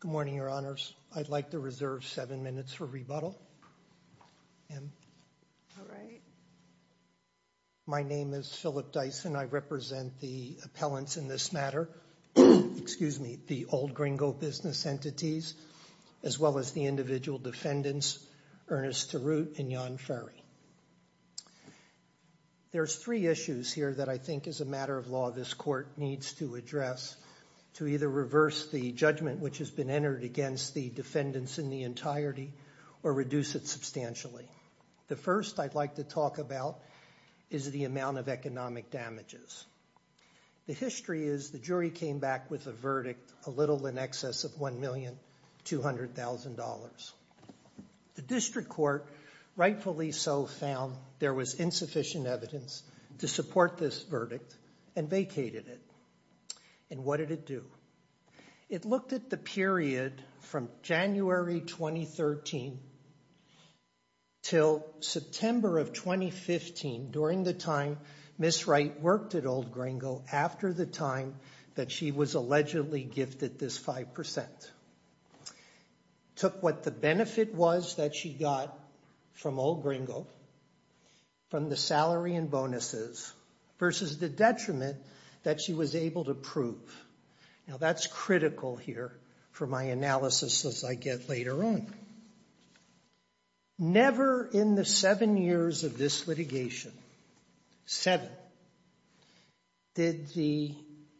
Good morning, Your Honors. I'd like to reserve seven minutes for rebuttal. My name is Philip Dyson. I represent the appellants in this matter, the Old Gringo business entities, as well as the individual defendants, Ernest Tarrout and Jan Ferry. There's three issues here that I think, as a matter of law, this Court needs to address to either reverse the judgment which has been entered against the defendants in the entirety or reduce it substantially. The first I'd like to talk about is the amount of economic damages. The history is the jury came back with a verdict a little in excess of $1,200,000. The District Court rightfully so found there was insufficient evidence to support this verdict and vacated it. And what did it do? It looked at the period from January 2013 till September of 2015, during the time Ms. Wright worked at Old Gringo, after the time that she was allegedly gifted this 5%, took what the benefit was that she got from Old Gringo, from the salary and bonuses, versus the detriment that she was able to prove. Now, that's critical here for my analysis as I get later on. Never in the seven years of this litigation, seven, did the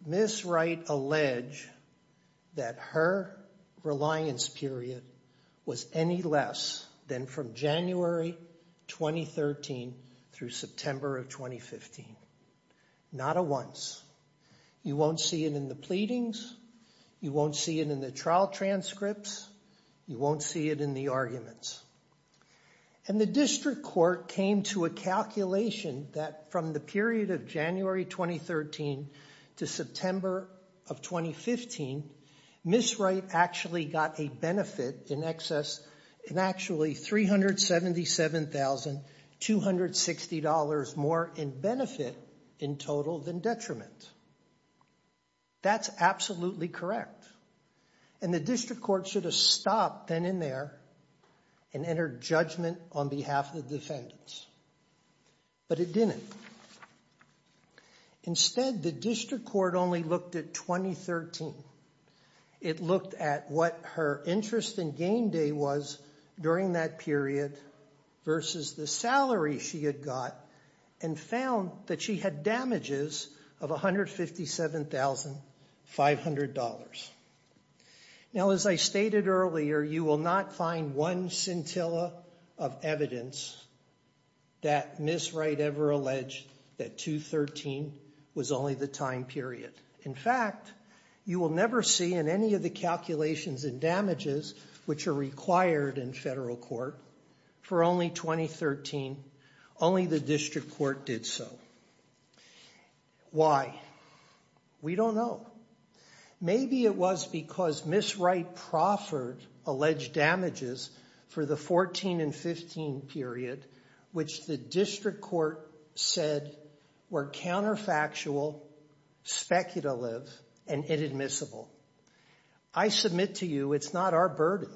Ms. Wright allege that her reliance period was any less than from January 2013 through September of 2015. Not a once. You won't see it in the pleadings. You won't see it in the trial transcripts. You won't see it in the arguments. And the District Court came to a calculation that from the period of January 2013 to September of 2015, Ms. Wright actually got a benefit in excess, in actually $377,260 more in benefit in total than detriment. That's absolutely correct. And the District Court should have stopped then and there and entered judgment on behalf of the defendants. But it didn't. Instead, the District Court only looked at 2013. It looked at what her interest in gain day was during that period versus the salary she had got and found that she had damages of $157,500. Now, as I stated earlier, you will not find one scintilla of evidence that Ms. Wright ever alleged that 2013 was only the time period. In fact, you will never see in any of the calculations and damages which are required in federal court for only 2013. Only the District Court did so. Why? We don't know. Maybe it was because Ms. Wright proffered alleged damages for the 14 and 15 period, which the District Court said were counterfactual, speculative, and inadmissible. I submit to you it's not our burden.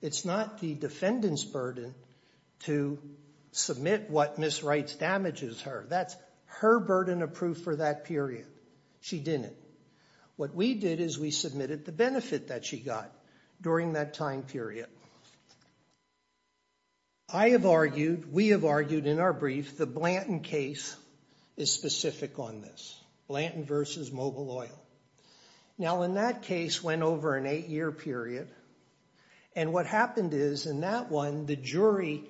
It's not the defendant's burden to submit what Ms. Wright's damages her. That's her burden approved for that period. She didn't. What we did is we submitted the benefit that she got during that time period. I have argued, we have argued in our brief, the Blanton case is specific on this. Blanton versus Mobil Oil. Now, in that case went over an eight-year period, and what happened is in that one, the jury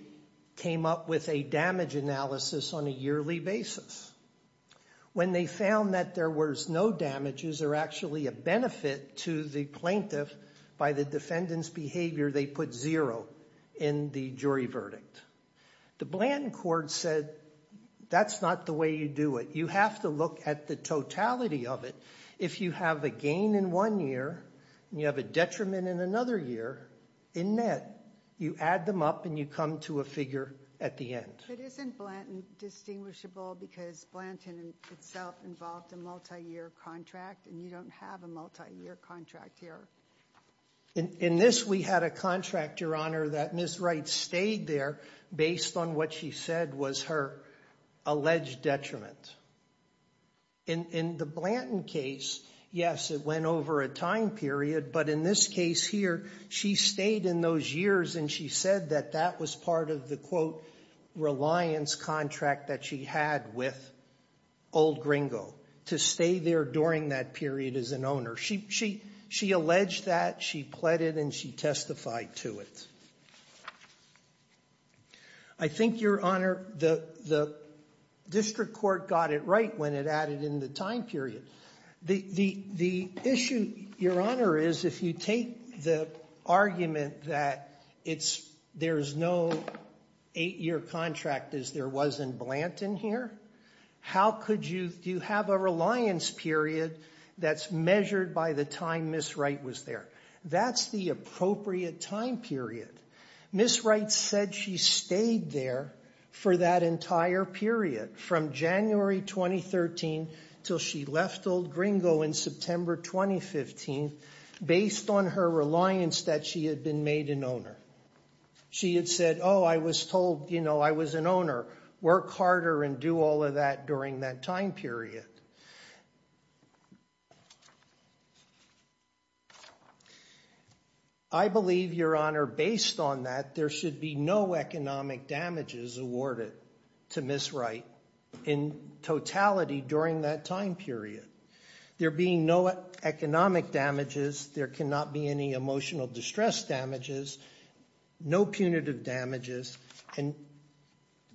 came up with a damage analysis on a yearly basis. When they found that there was no damages or actually a benefit to the plaintiff by the defendant's behavior, they put zero in the jury verdict. The Blanton court said, that's not the way you do it. You have to look at the totality of it. If you have a gain in one year, and you have a detriment in another year, in that, you add them up and you come to a figure at the end. But isn't Blanton distinguishable because Blanton itself involved a multi-year contract, and you don't have a multi-year contract here? In this, we had a contract, Your Honor, that Ms. Wright stayed there based on what she said was her alleged detriment. In the Blanton case, yes, it went over a time period, but in this case here, she stayed in those years and she said that that was part of the, quote, reliance contract that she had with Old Gringo, to stay there during that period as an owner. She alleged that, she pleaded, and she testified to it. I think, Your Honor, the district court got it right when it added in the time period. The issue, Your Honor, is if you take the argument that it's, there's no eight year contract as there was in Blanton here. How could you, do you have a reliance period that's measured by the time Ms. Wright was there? That's the appropriate time period. Ms. Wright said she stayed there for that entire period, from January 2013 till she left Old Gringo in September 2015, based on her reliance that she had been made an owner. She had said, I was told I was an owner, work harder and do all of that during that time period. I believe, Your Honor, based on that, there should be no economic damages awarded to Ms. Wright in totality during that time period. There being no economic damages, there cannot be any emotional distress damages, no punitive damages, and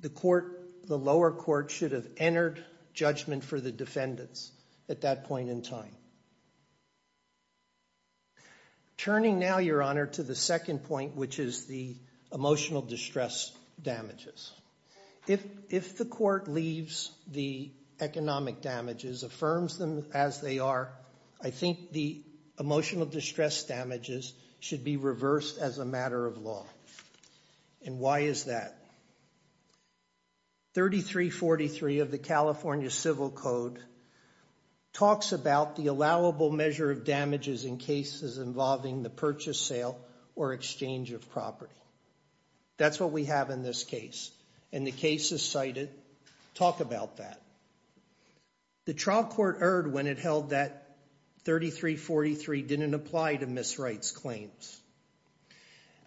the court, the lower court should have entered judgment for the defendants at that point in time. Turning now, Your Honor, to the second point, which is the emotional distress damages. If the court leaves the economic damages, affirms them as they are, I think the emotional distress damages should be reversed as a matter of law. And why is that? 3343 of the California Civil Code talks about the allowable measure of damages in cases involving the purchase, sale, or exchange of property. That's what we have in this case, and the case is cited. Talk about that. The trial court erred when it held that 3343 didn't apply to Ms. Wright's claims.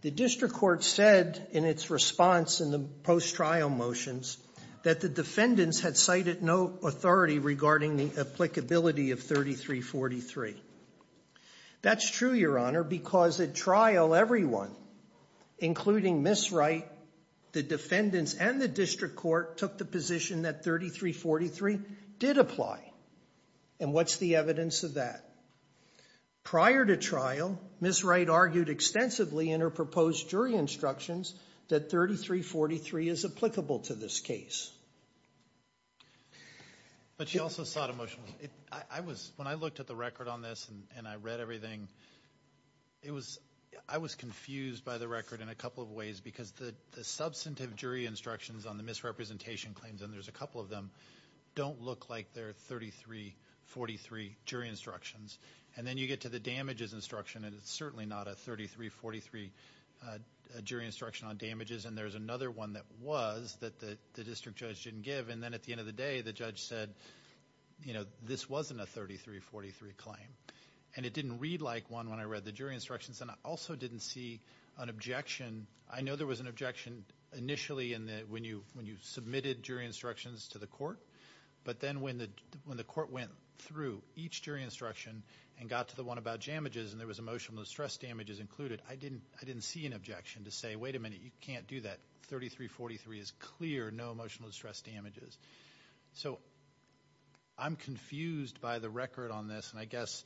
The district court said in its response in the post-trial motions that the defendants had cited no authority regarding the applicability of 3343. That's true, Your Honor, because at trial, everyone, including Ms. Wright, the defendants and the district court, took the position that 3343 did apply. And what's the evidence of that? Prior to trial, Ms. Wright argued extensively in her proposed jury instructions that 3343 is applicable to this case. But she also sought a motion. When I looked at the record on this and I read everything, I was confused by the record in a couple of ways because the substantive jury instructions on the misrepresentation claims, and there's a couple of them, don't look like they're 3343 jury instructions. And then you get to the damages instruction, and it's certainly not a 3343 jury instruction on damages. And there's another one that was, that the district judge didn't give. And then at the end of the day, the judge said, this wasn't a 3343 claim. And it didn't read like one when I read the jury instructions. And I also didn't see an objection. I know there was an objection initially when you submitted jury instructions to the court. But then when the court went through each jury instruction and got to the one about damages and there was emotional distress damages included, I didn't see an objection to say, wait a minute, you can't do that. 3343 is clear, no emotional distress damages. So, I'm confused by the record on this. And I guess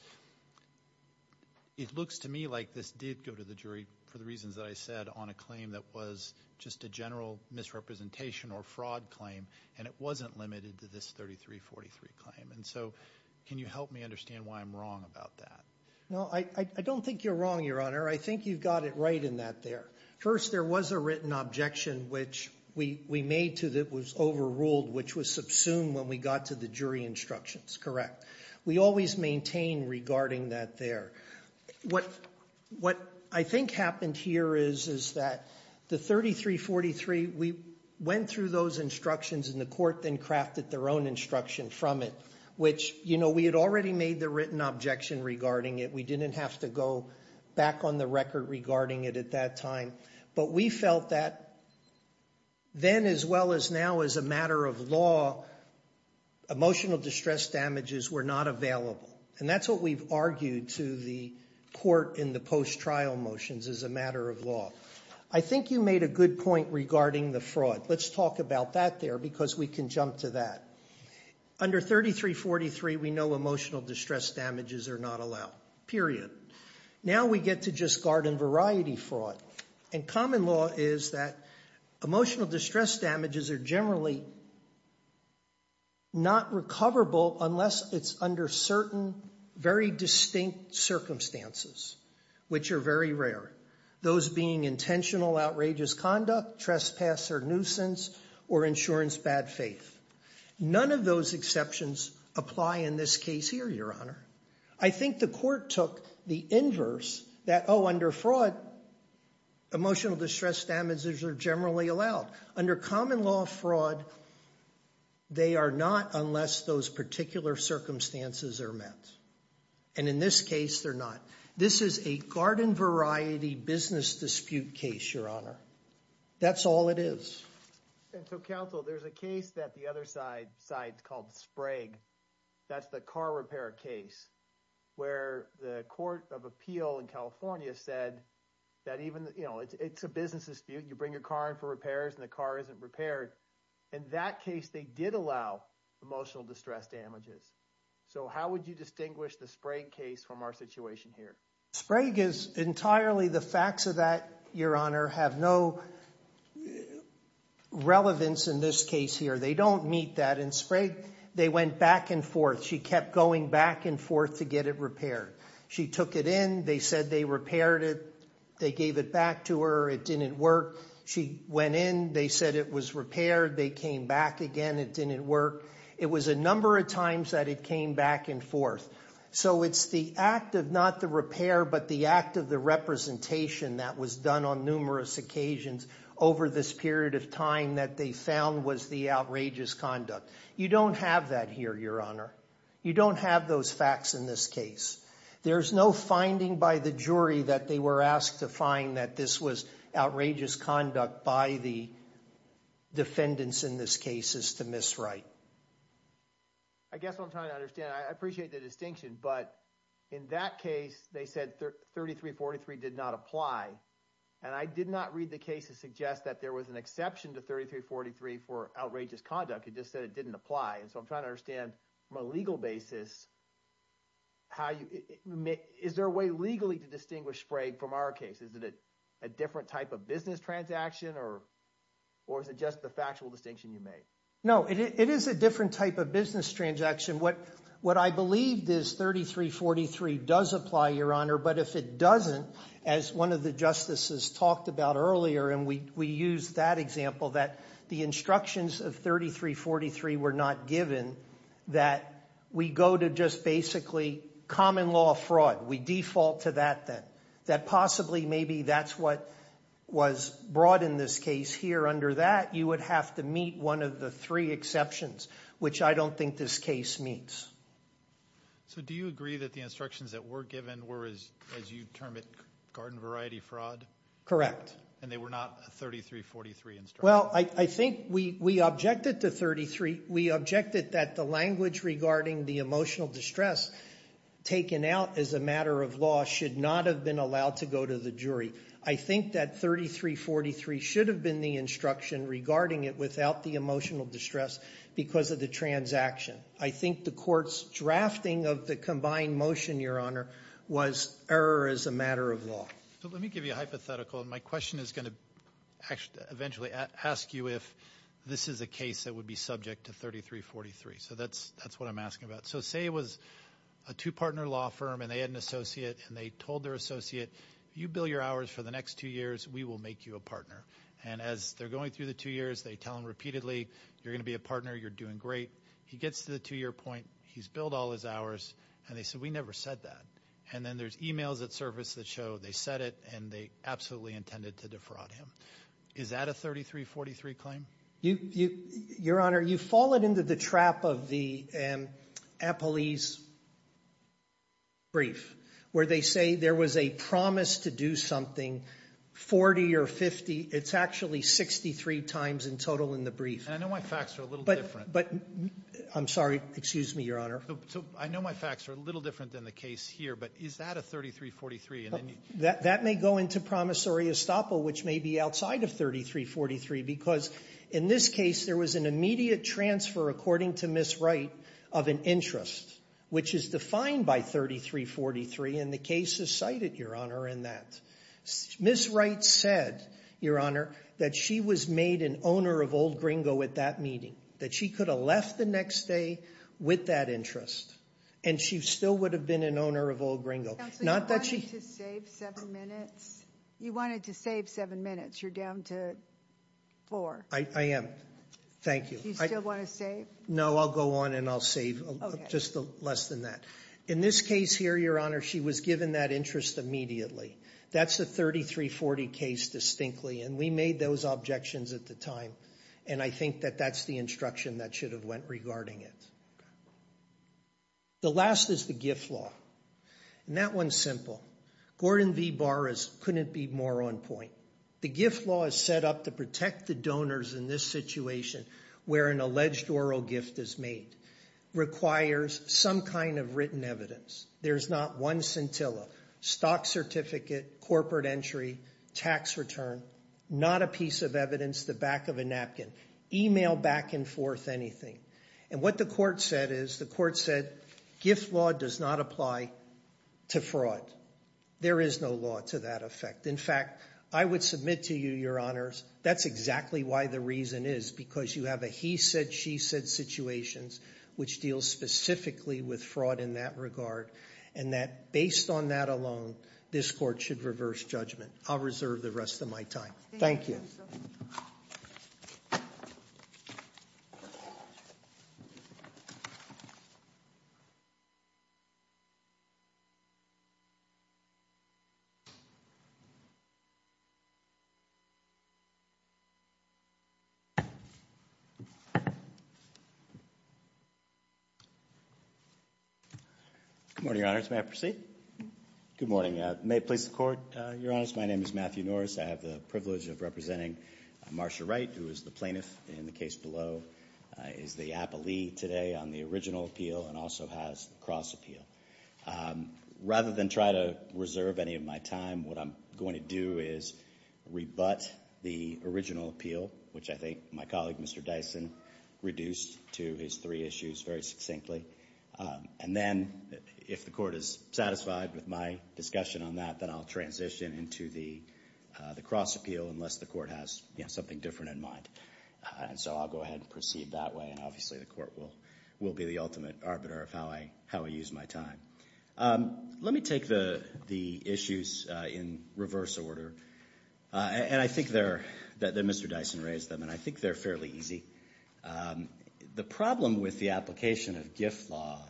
it looks to me like this did go to the jury for the reasons that I said on a claim that was just a general misrepresentation or fraud claim. And it wasn't limited to this 3343 claim. And so, can you help me understand why I'm wrong about that? No, I don't think you're wrong, Your Honor. I think you've got it right in that there. First, there was a written objection which we made to that was overruled, which was subsumed when we got to the jury instructions, correct? We always maintain regarding that there. What I think happened here is that the 3343, we went through those instructions and the court then crafted their own instruction from it. Which, we had already made the written objection regarding it. We didn't have to go back on the record regarding it at that time. But we felt that then as well as now as a matter of law, emotional distress damages were not available. And that's what we've argued to the court in the post-trial motions as a matter of law. I think you made a good point regarding the fraud. Let's talk about that there, because we can jump to that. Under 3343, we know emotional distress damages are not allowed, period. Now we get to just garden variety fraud. And common law is that emotional distress damages are generally not recoverable unless it's under certain very distinct circumstances, which are very rare. Those being intentional outrageous conduct, trespass or nuisance, or insurance bad faith. None of those exceptions apply in this case here, your honor. I think the court took the inverse that under fraud, emotional distress damages are generally allowed. Under common law fraud, they are not unless those particular circumstances are met. And in this case, they're not. This is a garden variety business dispute case, your honor. That's all it is. And so counsel, there's a case that the other side called Sprague. That's the car repair case where the court of appeal in California said that even, it's a business dispute, you bring your car in for repairs and the car isn't repaired. In that case, they did allow emotional distress damages. So how would you distinguish the Sprague case from our situation here? Sprague is entirely the facts of that, your honor, have no relevance in this case here. They don't meet that. In Sprague, they went back and forth. She kept going back and forth to get it repaired. She took it in, they said they repaired it. They gave it back to her, it didn't work. She went in, they said it was repaired. They came back again, it didn't work. It was a number of times that it came back and forth. So it's the act of not the repair, but the act of the representation that was done on numerous occasions over this period of time that they found was the outrageous conduct. You don't have that here, your honor. You don't have those facts in this case. There's no finding by the jury that they were asked to find that this was outrageous conduct by the defendants in this case is to miswrite. I guess what I'm trying to understand, I appreciate the distinction, but in that case, they said 3343 did not apply. And I did not read the case to suggest that there was an exception to 3343 for outrageous conduct, it just said it didn't apply. And so I'm trying to understand from a legal basis, is there a way legally to distinguish Sprague from our case? Is it a different type of business transaction or is it just the factual distinction you made? No, it is a different type of business transaction. What I believed is 3343 does apply, your honor, but if it doesn't, as one of the justices talked about earlier, and we used that example that the instructions of 3343 were not given. That we go to just basically common law fraud, we default to that then. That possibly maybe that's what was brought in this case here. Under that, you would have to meet one of the three exceptions, which I don't think this case meets. So do you agree that the instructions that were given were, as you term it, garden variety fraud? Correct. And they were not a 3343 instruction? Well, I think we objected to 33, we objected that the language regarding the emotional distress taken out as a matter of law should not have been allowed to go to the jury. I think that 3343 should have been the instruction regarding it without the emotional distress because of the transaction. I think the court's drafting of the combined motion, your honor, was error as a matter of law. So let me give you a hypothetical. And my question is going to eventually ask you if this is a case that would be subject to 3343. So that's what I'm asking about. So say it was a two-partner law firm and they had an associate and they told their associate, you bill your hours for the next two years, we will make you a partner. And as they're going through the two years, they tell him repeatedly, you're going to be a partner, you're doing great. He gets to the two-year point, he's billed all his hours, and they said, we never said that. And then there's emails that surface that show they said it and they absolutely intended to defraud him. Is that a 3343 claim? Your honor, you've fallen into the trap of the Apalis brief. Where they say there was a promise to do something, 40 or 50. It's actually 63 times in total in the brief. And I know my facts are a little different. But, I'm sorry, excuse me, your honor. So I know my facts are a little different than the case here, but is that a 3343, and then you- That may go into promissory estoppel, which may be outside of 3343, because in this case, there was an immediate transfer, according to Ms. Wright, of an interest. Which is defined by 3343, and the case is cited, your honor, in that. Ms. Wright said, your honor, that she was made an owner of Old Gringo at that meeting. That she could have left the next day with that interest, and she still would have been an owner of Old Gringo. Not that she- Counselor, you wanted to save seven minutes? You wanted to save seven minutes. You're down to four. I am. Thank you. You still want to save? No, I'll go on and I'll save just less than that. In this case here, your honor, she was given that interest immediately. That's the 3340 case distinctly, and we made those objections at the time. And I think that that's the instruction that should have went regarding it. The last is the gift law, and that one's simple. Gordon V Barras couldn't be more on point. The gift law is set up to protect the donors in this situation where an alleged oral gift is made. Requires some kind of written evidence. There's not one scintilla. Stock certificate, corporate entry, tax return, not a piece of evidence, the back of a napkin, email back and forth anything. And what the court said is, the court said gift law does not apply to fraud. There is no law to that effect. In fact, I would submit to you, your honors, that's exactly why the reason is. Because you have a he said, she said situations, which deals specifically with fraud in that regard. And that based on that alone, this court should reverse judgment. I'll reserve the rest of my time. Thank you. Good morning, your honors, may I proceed? Good morning. May it please the court, your honors, my name is Matthew Norris. I have the privilege of representing Marcia Wright, who is the plaintiff in the case below. Is the appellee today on the original appeal and also has cross appeal. Rather than try to reserve any of my time, what I'm going to do is rebut the original appeal, which I think my colleague, Mr. Dyson, reduced to his three issues very succinctly. And then, if the court is satisfied with my discussion on that, then I'll transition into the cross appeal, unless the court has something different in mind. And so I'll go ahead and proceed that way. And obviously the court will be the ultimate arbiter of how I use my time. Let me take the issues in reverse order. And I think they're, that Mr. Dyson raised them, and I think they're fairly easy. The problem with the application of gift law,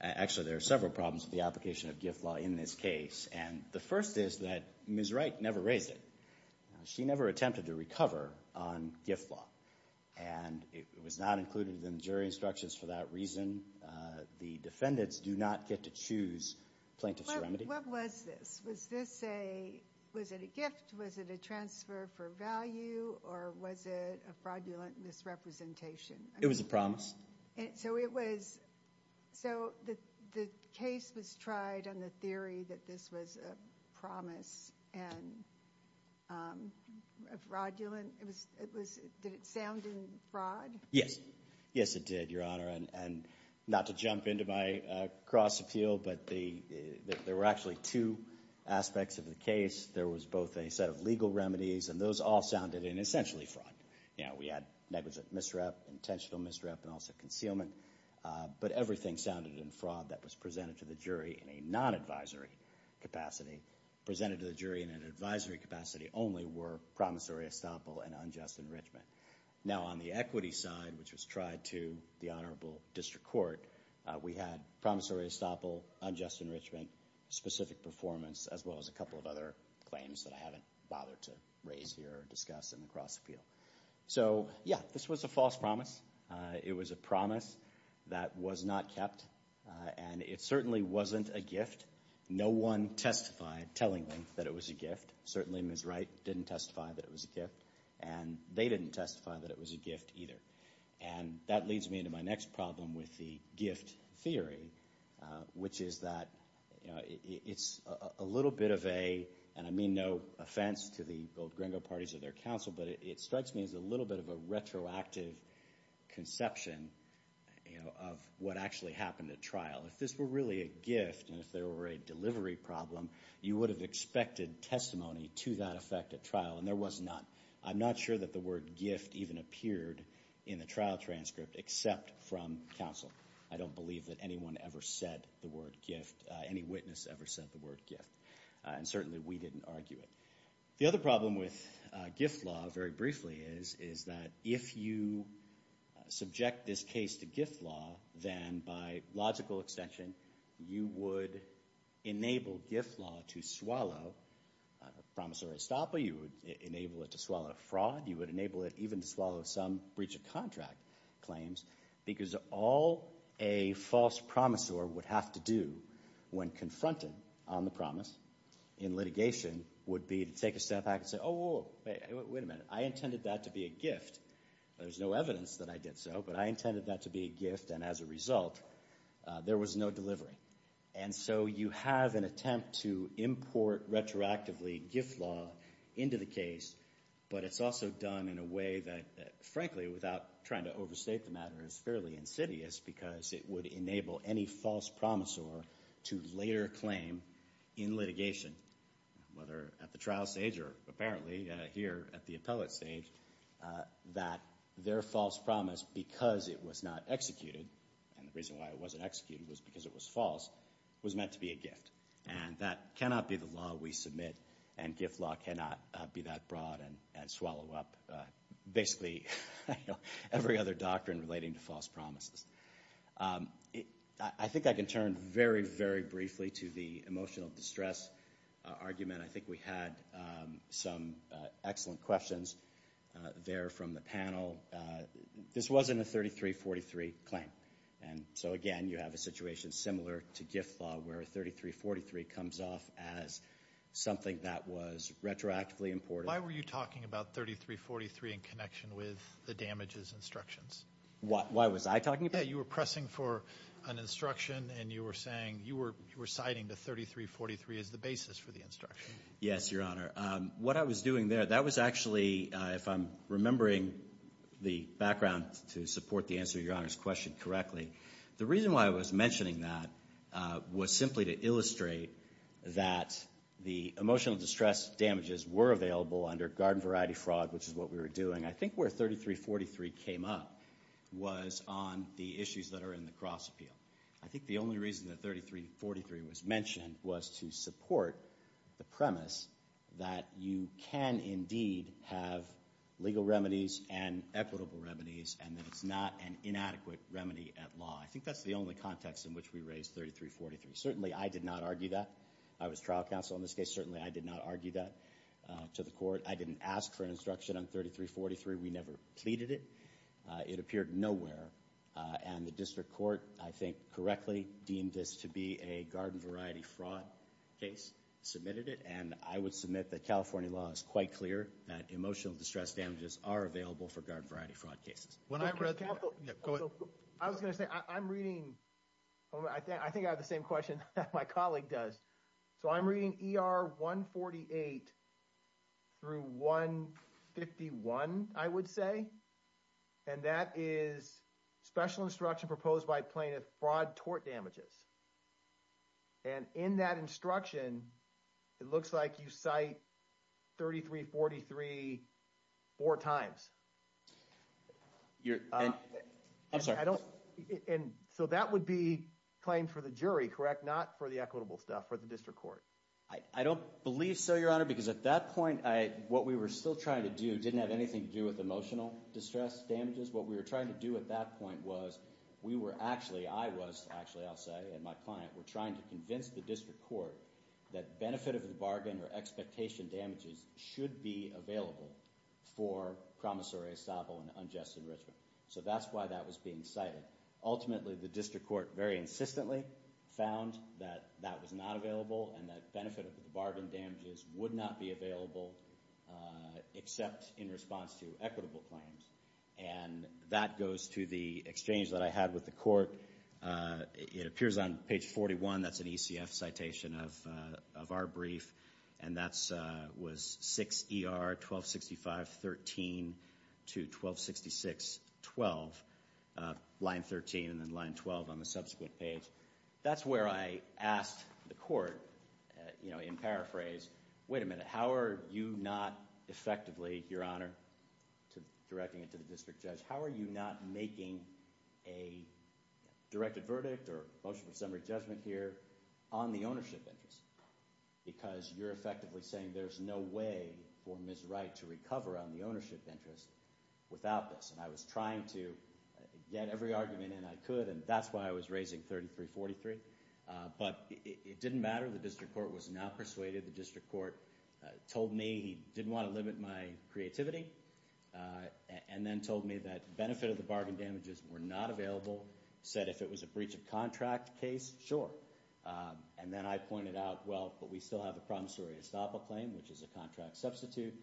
actually there are several problems with the application of gift law in this case. And the first is that Ms. Wright never raised it. She never attempted to recover on gift law. And it was not included in the jury instructions for that reason. The defendants do not get to choose plaintiff's remedy. What was this? Was this a, was it a gift? Was it a transfer for value? Or was it a fraudulent misrepresentation? It was a promise. So it was, so the case was tried on the theory that this was a promise. And fraudulent, it was, did it sound in fraud? Yes it did, your honor. And not to jump into my cross appeal, but the, there were actually two aspects of the case. There was both a set of legal remedies, and those all sounded in essentially fraud. You know, we had negligent misrep, intentional misrep, and also concealment. But everything sounded in fraud that was presented to the jury in a non-advisory capacity. Presented to the jury in an advisory capacity only were promissory estoppel and unjust enrichment. Now on the equity side, which was tried to the honorable district court, we had promissory estoppel, unjust enrichment, specific performance, as well as a couple of other claims that I haven't bothered to raise here or discuss in the cross appeal. So yeah, this was a false promise. It was a promise that was not kept. And it certainly wasn't a gift. No one testified telling them that it was a gift. Certainly Ms. Wright didn't testify that it was a gift. And they didn't testify that it was a gift either. And that leads me into my next problem with the gift theory, which is that, you know, it's a little bit of a, and I mean no offense to the gold gringo parties or their counsel, but it strikes me as a little bit of a retroactive conception, you know, of what actually happened at trial. If this were really a gift and if there were a delivery problem, you would have expected testimony to that effect at trial. And there was none. I'm not sure that the word gift even appeared in the trial transcript except from counsel. I don't believe that anyone ever said the word gift, any witness ever said the word gift. And certainly we didn't argue it. The other problem with gift law, very briefly, is that if you subject this case to gift law, then by logical extension, you would enable gift law to swallow a promissory estoppel. You would enable it to swallow a fraud. You would enable it even to swallow some breach of contract claims. Because all a false promissor would have to do when confronted on the promise in litigation would be to take a step back and say, oh, wait a minute. I intended that to be a gift. There's no evidence that I did so, but I intended that to be a gift. And as a result, there was no delivery. And so you have an attempt to import retroactively gift law into the case, but it's also done in a way that, frankly, without trying to overstate the matter, is fairly insidious because it would enable any false promissor to later claim in litigation, whether at the trial stage or apparently here at the appellate stage, that their false promise, because it was not executed, and the reason why it wasn't executed was because it was false, was meant to be a gift. And that cannot be the law we submit, and gift law cannot be that broad and swallow up basically every other doctrine relating to false promises. I think I can turn very, very briefly to the emotional distress argument. I think we had some excellent questions. There from the panel, this wasn't a 3343 claim. And so again, you have a situation similar to gift law, where a 3343 comes off as something that was retroactively imported. Why were you talking about 3343 in connection with the damages instructions? Why was I talking about it? You were pressing for an instruction, and you were saying, you were citing the 3343 as the basis for the instruction. Yes, Your Honor. What I was doing there, that was actually, if I'm remembering the background to support the answer to Your Honor's question correctly, the reason why I was mentioning that was simply to illustrate that the emotional distress damages were available under garden variety fraud, which is what we were doing. I think where 3343 came up was on the issues that are in the cross appeal. I think the only reason that 3343 was mentioned was to support the premise that you can indeed have legal remedies and equitable remedies, and that it's not an inadequate remedy at law. I think that's the only context in which we raised 3343. Certainly, I did not argue that. I was trial counsel in this case. Certainly, I did not argue that to the court. I didn't ask for an instruction on 3343. We never pleaded it. It appeared nowhere. And the district court, I think correctly, deemed this to be a garden variety fraud case, submitted it. I would submit that California law is quite clear that emotional distress damages are available for garden variety fraud cases. I was going to say, I'm reading. I think I have the same question that my colleague does. So I'm reading ER 148 through 151, I would say. And that is special instruction proposed by plaintiff fraud tort damages. And in that instruction, it looks like you cite 3343 four times. I'm sorry. And so that would be claimed for the jury, correct? Not for the equitable stuff, for the district court. I don't believe so, Your Honor, because at that point, what we were still trying to do didn't have anything to do with emotional distress damages. What we were trying to do at that point was, we were actually, I was actually, I'll say, and my client were trying to convince the district court that benefit of the bargain or expectation damages should be available for promissory estoppel and unjust enrichment. So that's why that was being cited. Ultimately, the district court very insistently found that that was not available and that benefit of the bargain damages would not be available except in response to equitable claims. And that goes to the exchange that I had with the court. It appears on page 41. That's an ECF citation of our brief. And that was 6 ER 1265 13 to 1266 12, line 13 and then line 12 on the subsequent page. That's where I asked the court, you know, in paraphrase, wait a minute, how are you not effectively, Your Honor, to directing it to the district judge? How are you not making a directed verdict or motion for summary judgment here on the ownership interest? Because you're effectively saying there's no way for Ms. Wright to recover on the ownership interest without this. And I was trying to get every argument in I could. And that's why I was raising 3343. But it didn't matter. The district court was not persuaded. The district court told me he didn't want to limit my creativity and then told me that benefit of the bargain damages were not available. Said if it was a breach of contract case, sure. And then I pointed out, well, but we still have a promissory estoppel claim, which is a contract substitute.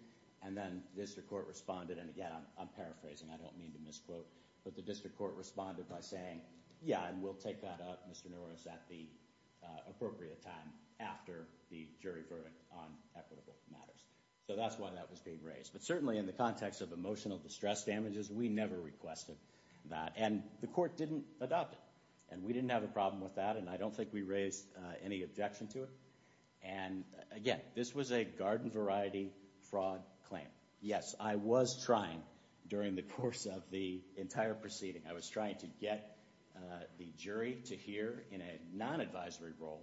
And then district court responded. And again, I'm paraphrasing. I don't mean to misquote. But the district court responded by saying, yeah, and we'll take that up, Mr. Norris, at the appropriate time after the jury verdict on equitable matters. So that's why that was being raised. But certainly in the context of emotional distress damages, we never requested that. And the court didn't adopt it. And we didn't have a problem with that. And I don't think we raised any objection to it. And again, this was a garden variety fraud claim. Yes, I was trying during the course of the entire proceeding. I was trying to get the jury to hear in a non-advisory role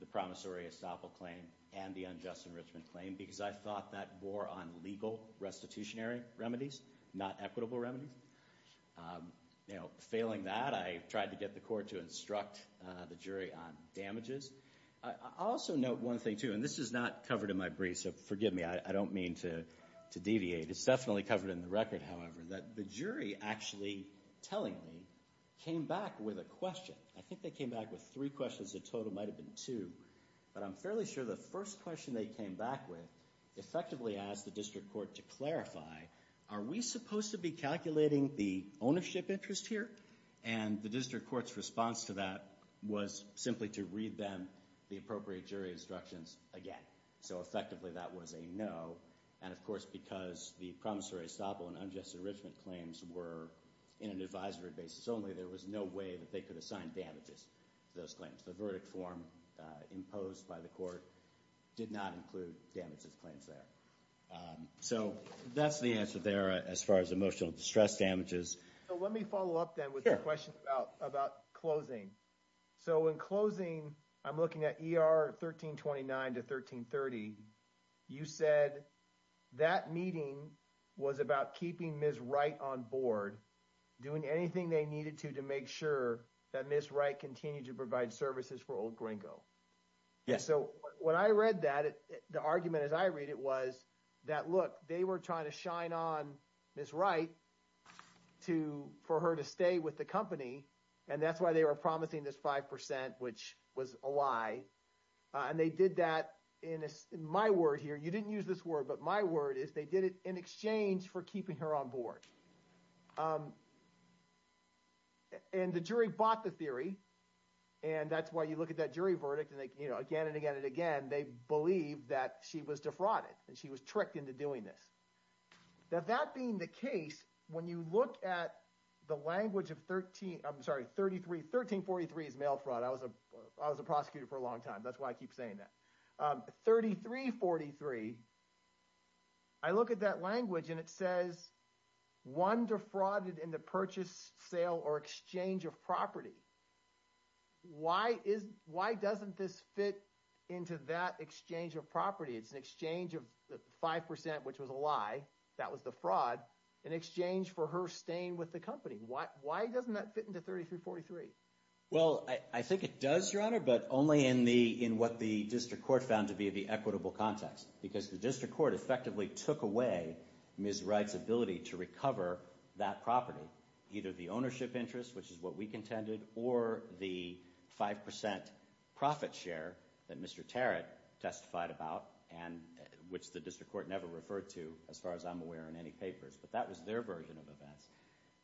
the promissory estoppel claim and the unjust enrichment claim, because I thought that bore on legal restitutionary remedies, not equitable remedies. Failing that, I tried to get the court to instruct the jury on damages. I also note one thing, too. And this is not covered in my brief. So forgive me. I don't mean to deviate. It's definitely covered in the record, however, that the jury actually, tellingly, came back with a question. I think they came back with three questions. The total might have been two. But I'm fairly sure the first question they came back with effectively asked the district court to clarify, are we supposed to be calculating the ownership interest here? And the district court's response to that was simply to read them the appropriate jury instructions again. So effectively, that was a no. And of course, because the promissory estoppel and unjust enrichment claims were in an advisory basis only, there was no way that they could assign damages to those claims. The verdict form imposed by the court did not include damages claims there. So that's the answer there as far as emotional distress damages. So let me follow up, then, with the question about closing. So in closing, I'm looking at ER 1329 to 1330. You said that meeting was about keeping Ms. Wright on board, doing anything they needed to to make sure that Ms. Wright continued to provide services for Old Gringo. Yes. So when I read that, the argument as I read it was that, look, they were trying to shine on Ms. Wright for her to stay with the company. And that's why they were promising this 5%, which was a lie. And they did that in my word here. You didn't use this word, but my word is they did it in exchange for keeping her on board. And the jury bought the theory. And that's why you look at that jury verdict. And again, and again, and again, they believe that she was defrauded. And she was tricked into doing this. Now, that being the case, when you look at the language of 1343 is mail fraud. I was a prosecutor for a long time. That's why I keep saying that. 3343, I look at that language and it says one defrauded in the purchase, sale or exchange of property. Why doesn't this fit into that exchange of property? It's an exchange of 5%, which was a lie. That was the fraud in exchange for her staying with the company. Why doesn't that fit into 3343? Well, I think it does, Your Honor. But only in what the district court found to be the equitable context. Because the district court effectively took away Ms. Wright's ability to recover that property. Either the ownership interest, which is what we contended, or the 5% profit share that Mr. Tarrant testified about, which the district court never referred to, as far as I'm aware, in any papers. But that was their version of events.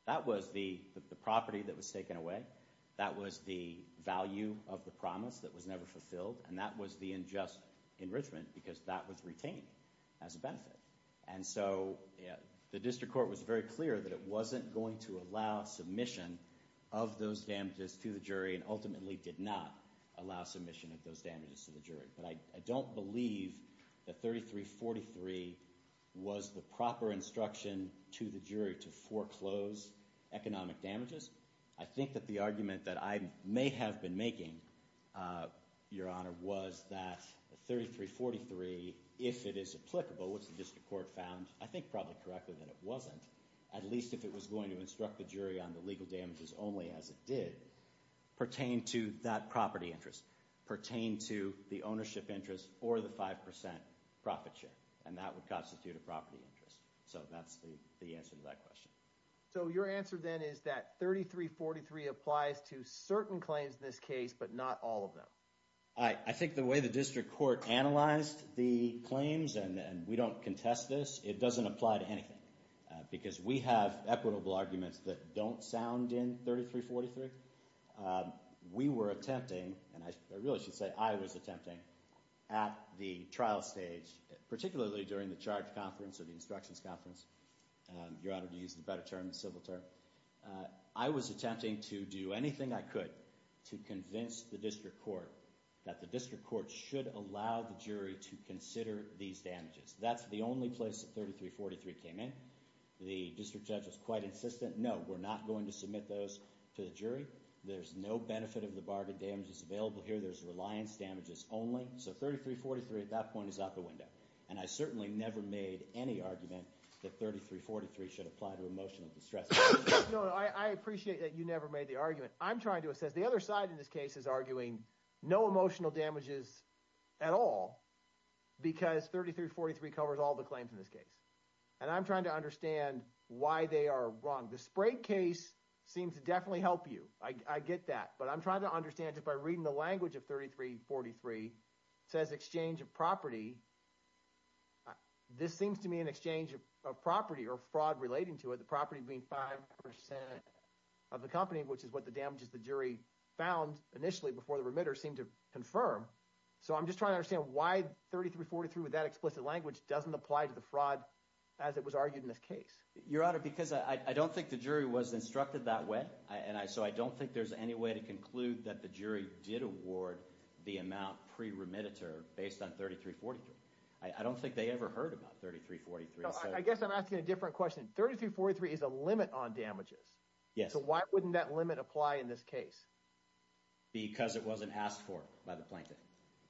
That was the property that was taken away. That was the value of the promise that was never fulfilled. And that was the unjust enrichment because that was retained as a benefit. And so the district court was very clear that it wasn't going to allow submission of those damages to the jury and ultimately did not allow submission of those damages to the jury. I don't believe that 3343 was the proper instruction to the jury to foreclose economic damages. I think that the argument that I may have been making, Your Honor, was that 3343, if it is applicable, which the district court found, I think probably correctly that it wasn't, at least if it was going to instruct the jury on the legal damages only as it did, pertain to that property interest, pertain to the ownership interest, or the 5% profit share. And that would constitute a property interest. So that's the answer to that question. So your answer then is that 3343 applies to certain claims in this case, but not all of them? I think the way the district court analyzed the claims, and we don't contest this, it doesn't apply to anything. Because we have equitable arguments that don't sound in 3343. We were attempting, and I really should say I was attempting, at the trial stage, particularly during the charge conference or the instructions conference, Your Honor, to use the better term, the civil term, I was attempting to do anything I could to convince the district court that the district court should allow the jury to consider these damages. That's the only place that 3343 came in. The district judge was quite insistent, no, we're not going to submit those to the jury. There's no benefit of the bargain damages available here. There's reliance damages only. So 3343 at that point is out the window. And I certainly never made any argument that 3343 should apply to emotional distress. No, I appreciate that you never made the argument. I'm trying to assess, the other side in this case is arguing no emotional damages at all. Because 3343 covers all the claims in this case. And I'm trying to understand why they are wrong. The Sprague case seems to definitely help you. I get that. But I'm trying to understand, just by reading the language of 3343, says exchange of property. This seems to me an exchange of property or fraud relating to it. The property being 5% of the company, which is what the damages the jury found initially before the remitter seemed to confirm. So I'm just trying to understand why 3343 with that explicit language doesn't apply to the fraud as it was argued in this case. Your Honor, because I don't think the jury was instructed that way. And so I don't think there's any way to conclude that the jury did award the amount pre-remitter based on 3343. I don't think they ever heard about 3343. I guess I'm asking a different question. 3343 is a limit on damages. Yes. So why wouldn't that limit apply in this case? Because it wasn't asked for by the plaintiff.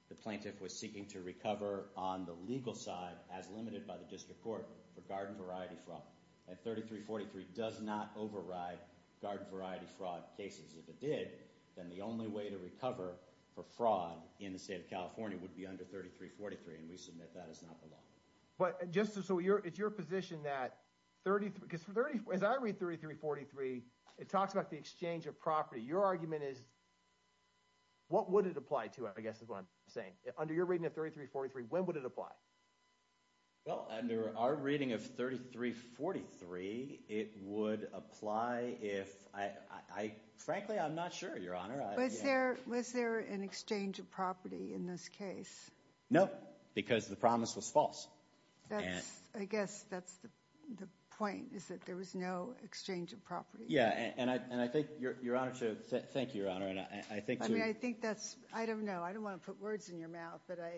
The plaintiff was seeking to recover on the legal side as limited by the district court for garden variety fraud. And 3343 does not override garden variety fraud cases. If it did, then the only way to recover for fraud in the state of California would be under 3343. And we submit that is not the law. But just so it's your position that, because as I read 3343, it talks about the exchange of property. Your argument is, what would it apply to, I guess is what I'm saying. Under your reading of 3343, when would it apply? Well, under our reading of 3343, it would apply if, frankly, I'm not sure, Your Honor. Was there an exchange of property in this case? No, because the promise was false. I guess that's the point, is that there was no exchange of property. Yeah, and I think Your Honor should, thank you, Your Honor. And I think that's, I don't know. I don't want to put words in your mouth, but I.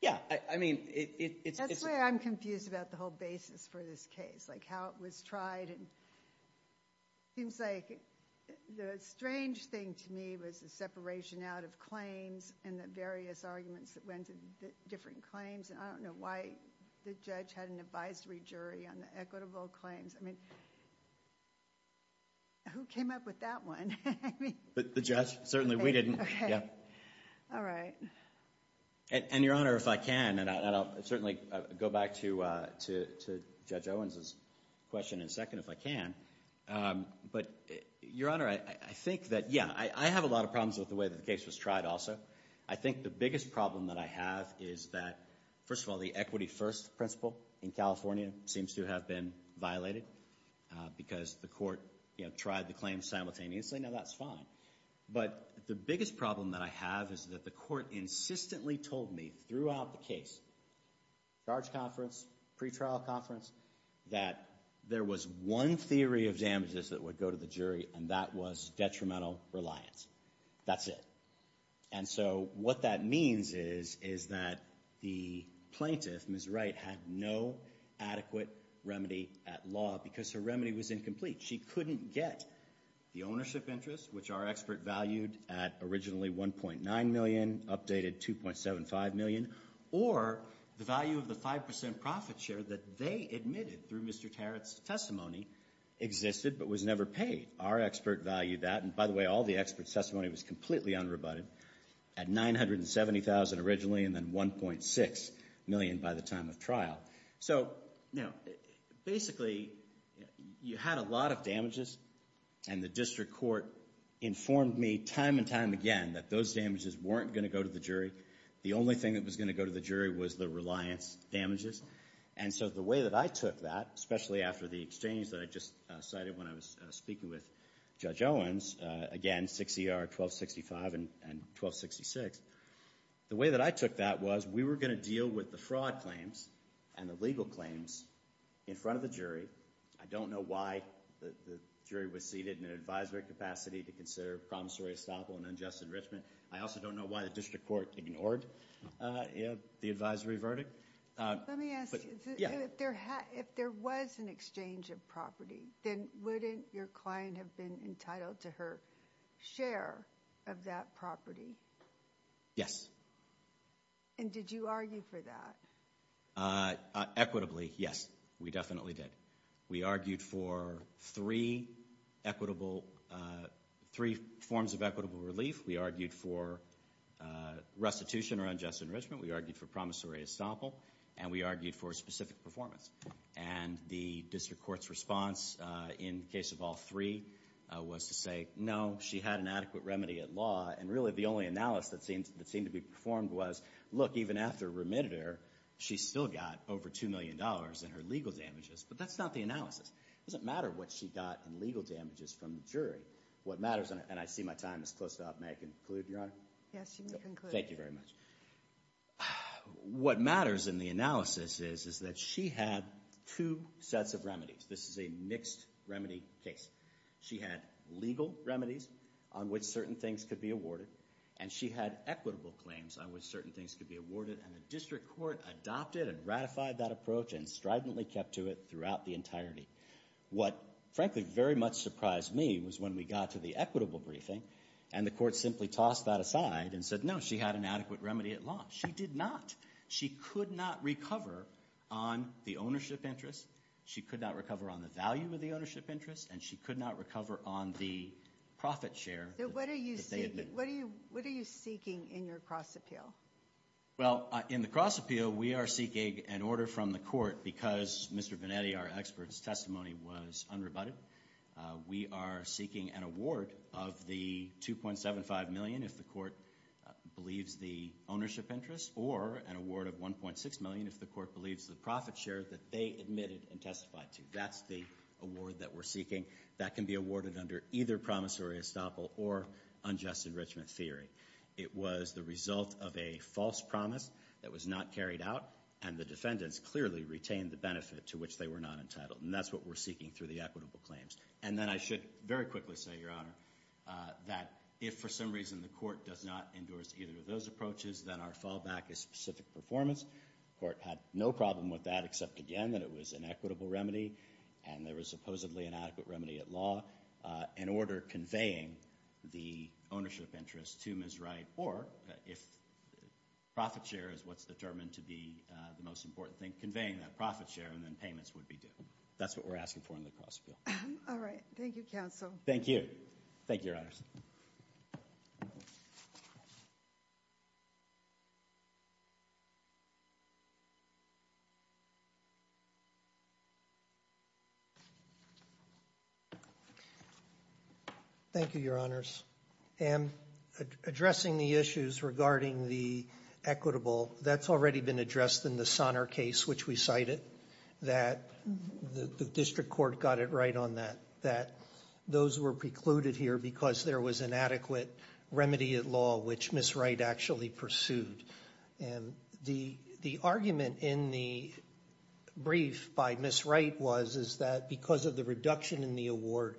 Yeah, I mean, it's. That's where I'm confused about the whole basis for this case, like how it was tried. And it seems like the strange thing to me was the separation out of claims and the various arguments that went to different claims. And I don't know why the judge had an advisory jury on the equitable claims. I mean, who came up with that one? But the judge, certainly we didn't. Okay, all right. And, Your Honor, if I can, and I'll certainly go back to Judge Owens's question in a second if I can. But, Your Honor, I think that, yeah, I have a lot of problems with the way that the case was tried also. I think the biggest problem that I have is that, first of all, the equity first principle in California seems to have been violated because the court, you know, tried the claim simultaneously. Now, that's fine. But the biggest problem that I have is that the court insistently told me throughout the case, charge conference, pretrial conference, that there was one theory of damages that would go to the jury, and that was detrimental reliance. That's it. And so what that means is that the plaintiff, Ms. Wright, had no adequate remedy at law because her remedy was incomplete. She couldn't get the ownership interest, which our expert valued at originally $1.9 million, updated $2.75 million, or the value of the 5% profit share that they admitted through Mr. Tarrant's testimony existed but was never paid. Our expert valued that, and by the way, all the expert testimony was completely unrebutted, at $970,000 originally and then $1.6 million by the time of trial. So now, basically, you had a lot of damages, and the district court informed me time and time again that those damages weren't going to go to the jury. The only thing that was going to go to the jury was the reliance damages. And so the way that I took that, especially after the exchange that I just cited when I was speaking with Judge Owens, again, 6 ER 1265 and 1266, the way that I took that was we were going to deal with the fraud claims and the legal claims in front of the jury. I don't know why the jury was seated in an advisory capacity to consider promissory estoppel and unjust enrichment. I also don't know why the district court ignored the advisory verdict. Let me ask you, if there was an exchange of property, then wouldn't your client have been entitled to her share of that property? Yes. And did you argue for that? Equitably, yes. We definitely did. We argued for three equitable, three forms of equitable relief. We argued for restitution or unjust enrichment. We argued for promissory estoppel. And we argued for specific performance. And the district court's response in case of all three was to say, no, she had an adequate remedy at law. And really, the only analysis that seemed to be performed was, look, even after remitted her, she still got over $2 million in her legal damages. But that's not the analysis. It doesn't matter what she got in legal damages from the jury. What matters, and I see my time is close up. May I conclude, Your Honor? Yes, you may conclude. Thank you very much. What matters in the analysis is that she had two sets of remedies. This is a mixed remedy case. She had legal remedies on which certain things could be awarded. And she had equitable claims on which certain things could be awarded. And the district court adopted and ratified that approach and stridently kept to it throughout the entirety. What, frankly, very much surprised me was when we got to the equitable briefing and the court simply tossed that aside and said, no, she had an adequate remedy at law. She did not. She could not recover on the ownership interest. She could not recover on the value of the ownership interest. She could not recover on the profit share. What are you seeking in your cross appeal? Well, in the cross appeal, we are seeking an order from the court because, Mr. Venetti, our expert's testimony was unrebutted. We are seeking an award of the $2.75 million if the court believes the ownership interest or an award of $1.6 million if the court believes the profit share that they admitted and testified to. That's the award that we're seeking. That can be awarded under either promissory estoppel or unjust enrichment theory. It was the result of a false promise that was not carried out. And the defendants clearly retained the benefit to which they were not entitled. And that's what we're seeking through the equitable claims. And then I should very quickly say, Your Honor, that if for some reason the court does not endorse either of those approaches, then our fallback is specific performance. The court had no problem with that except, again, that it was an equitable remedy and there was supposedly an adequate remedy at law in order conveying the ownership interest to Ms. Wright or if profit share is what's determined to be the most important thing, conveying that profit share and then payments would be due. That's what we're asking for in the cross appeal. All right. Thank you, counsel. Thank you. Thank you, Your Honors. Thank you, Your Honors. And addressing the issues regarding the equitable, that's already been addressed in the Sonner case, which we cited, that the district court got it right on that, that those were precluded here because there was an adequate remedy at law, which Ms. Wright actually pursued. And the argument in the brief by Ms. Wright was, is that because of the reduction in the award,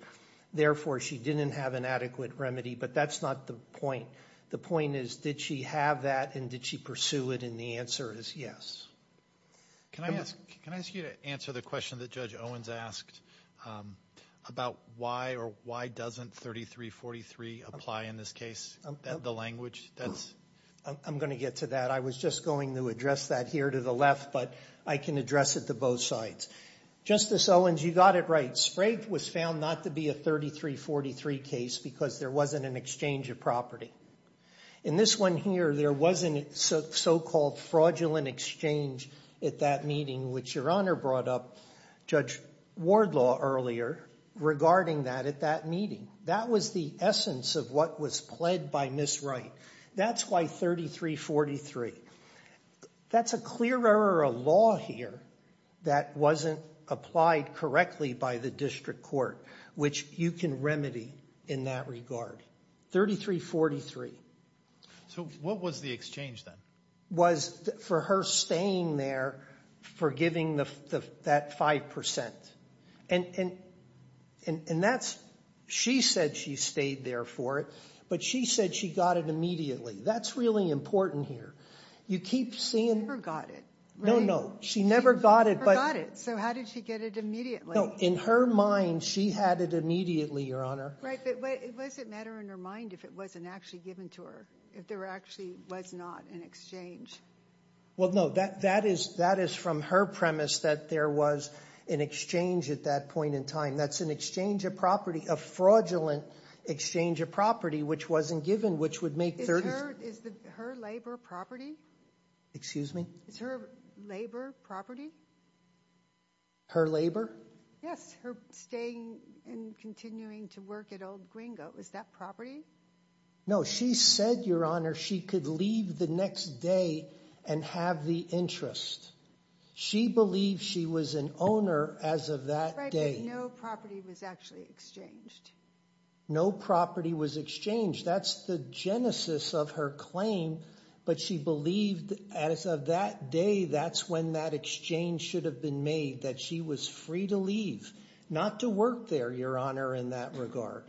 therefore, she didn't have an adequate remedy. But that's not the point. The point is, did she have that and did she pursue it? And the answer is yes. Can I ask you to answer the question that Judge Owens asked about why or why doesn't 3343 apply in this case, the language? I'm going to get to that. I was just going to address that here to the left, but I can address it to both sides. Justice Owens, you got it right. Sprague was found not to be a 3343 case because there wasn't an exchange of property. In this one here, there was a so-called fraudulent exchange at that meeting, which Your Honor brought up, Judge Wardlaw earlier, regarding that at that meeting. That was the essence of what was pled by Ms. Wright. That's why 3343. That's a clear error of law here that wasn't applied correctly by the district court, which you can remedy in that regard. 3343. So what was the exchange then? Was for her staying there for giving that 5%. And that's, she said she stayed there for it, but she said she got it immediately. That's really important here. You keep seeing... She never got it, right? No, no. She never got it, but... She never got it. So how did she get it immediately? No, in her mind, she had it immediately, Your Honor. Right, but what does it matter in her mind if it wasn't actually given to her, if there actually was not an exchange? Well, no, that is from her premise that there was an exchange at that point in time. That's an exchange of property, a fraudulent exchange of property, which wasn't given, which would make 33... Is her labor property? Excuse me? Is her labor property? Her labor? Yes, her staying and continuing to work at Old Guingo. Is that property? No, she said, Your Honor, she could leave the next day and have the interest. She believed she was an owner as of that day. No property was actually exchanged. No property was exchanged. That's the genesis of her claim, but she believed as of that day, that's when that exchange should have been made, that she was free to leave, not to work there, Your Honor, in that regard.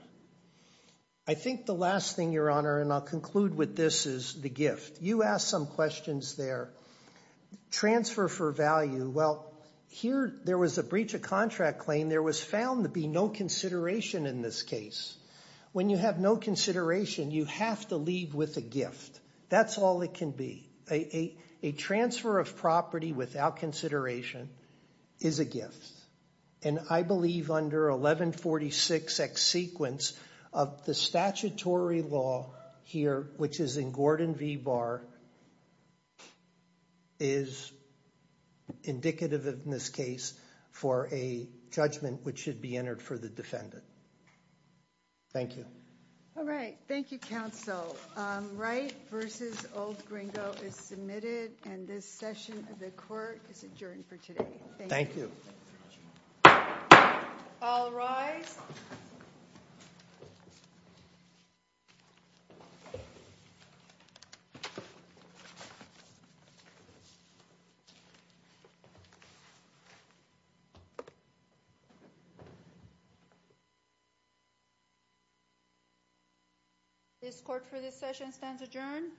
I think the last thing, Your Honor, and I'll conclude with this, is the gift. You asked some questions there. Transfer for value. Well, here, there was a breach of contract claim. There was found to be no consideration in this case. When you have no consideration, you have to leave with a gift. That's all it can be. A transfer of property without consideration is a gift. And I believe under 1146X sequence, of the statutory law here, which is in Gordon v. Barr, is indicative in this case for a judgment which should be entered for the defendant. Thank you. All right. Thank you, counsel. Wright v. Old Gringo is submitted, and this session of the court is adjourned for today. Thank you. All rise. Thank you. This court for this session stands adjourned.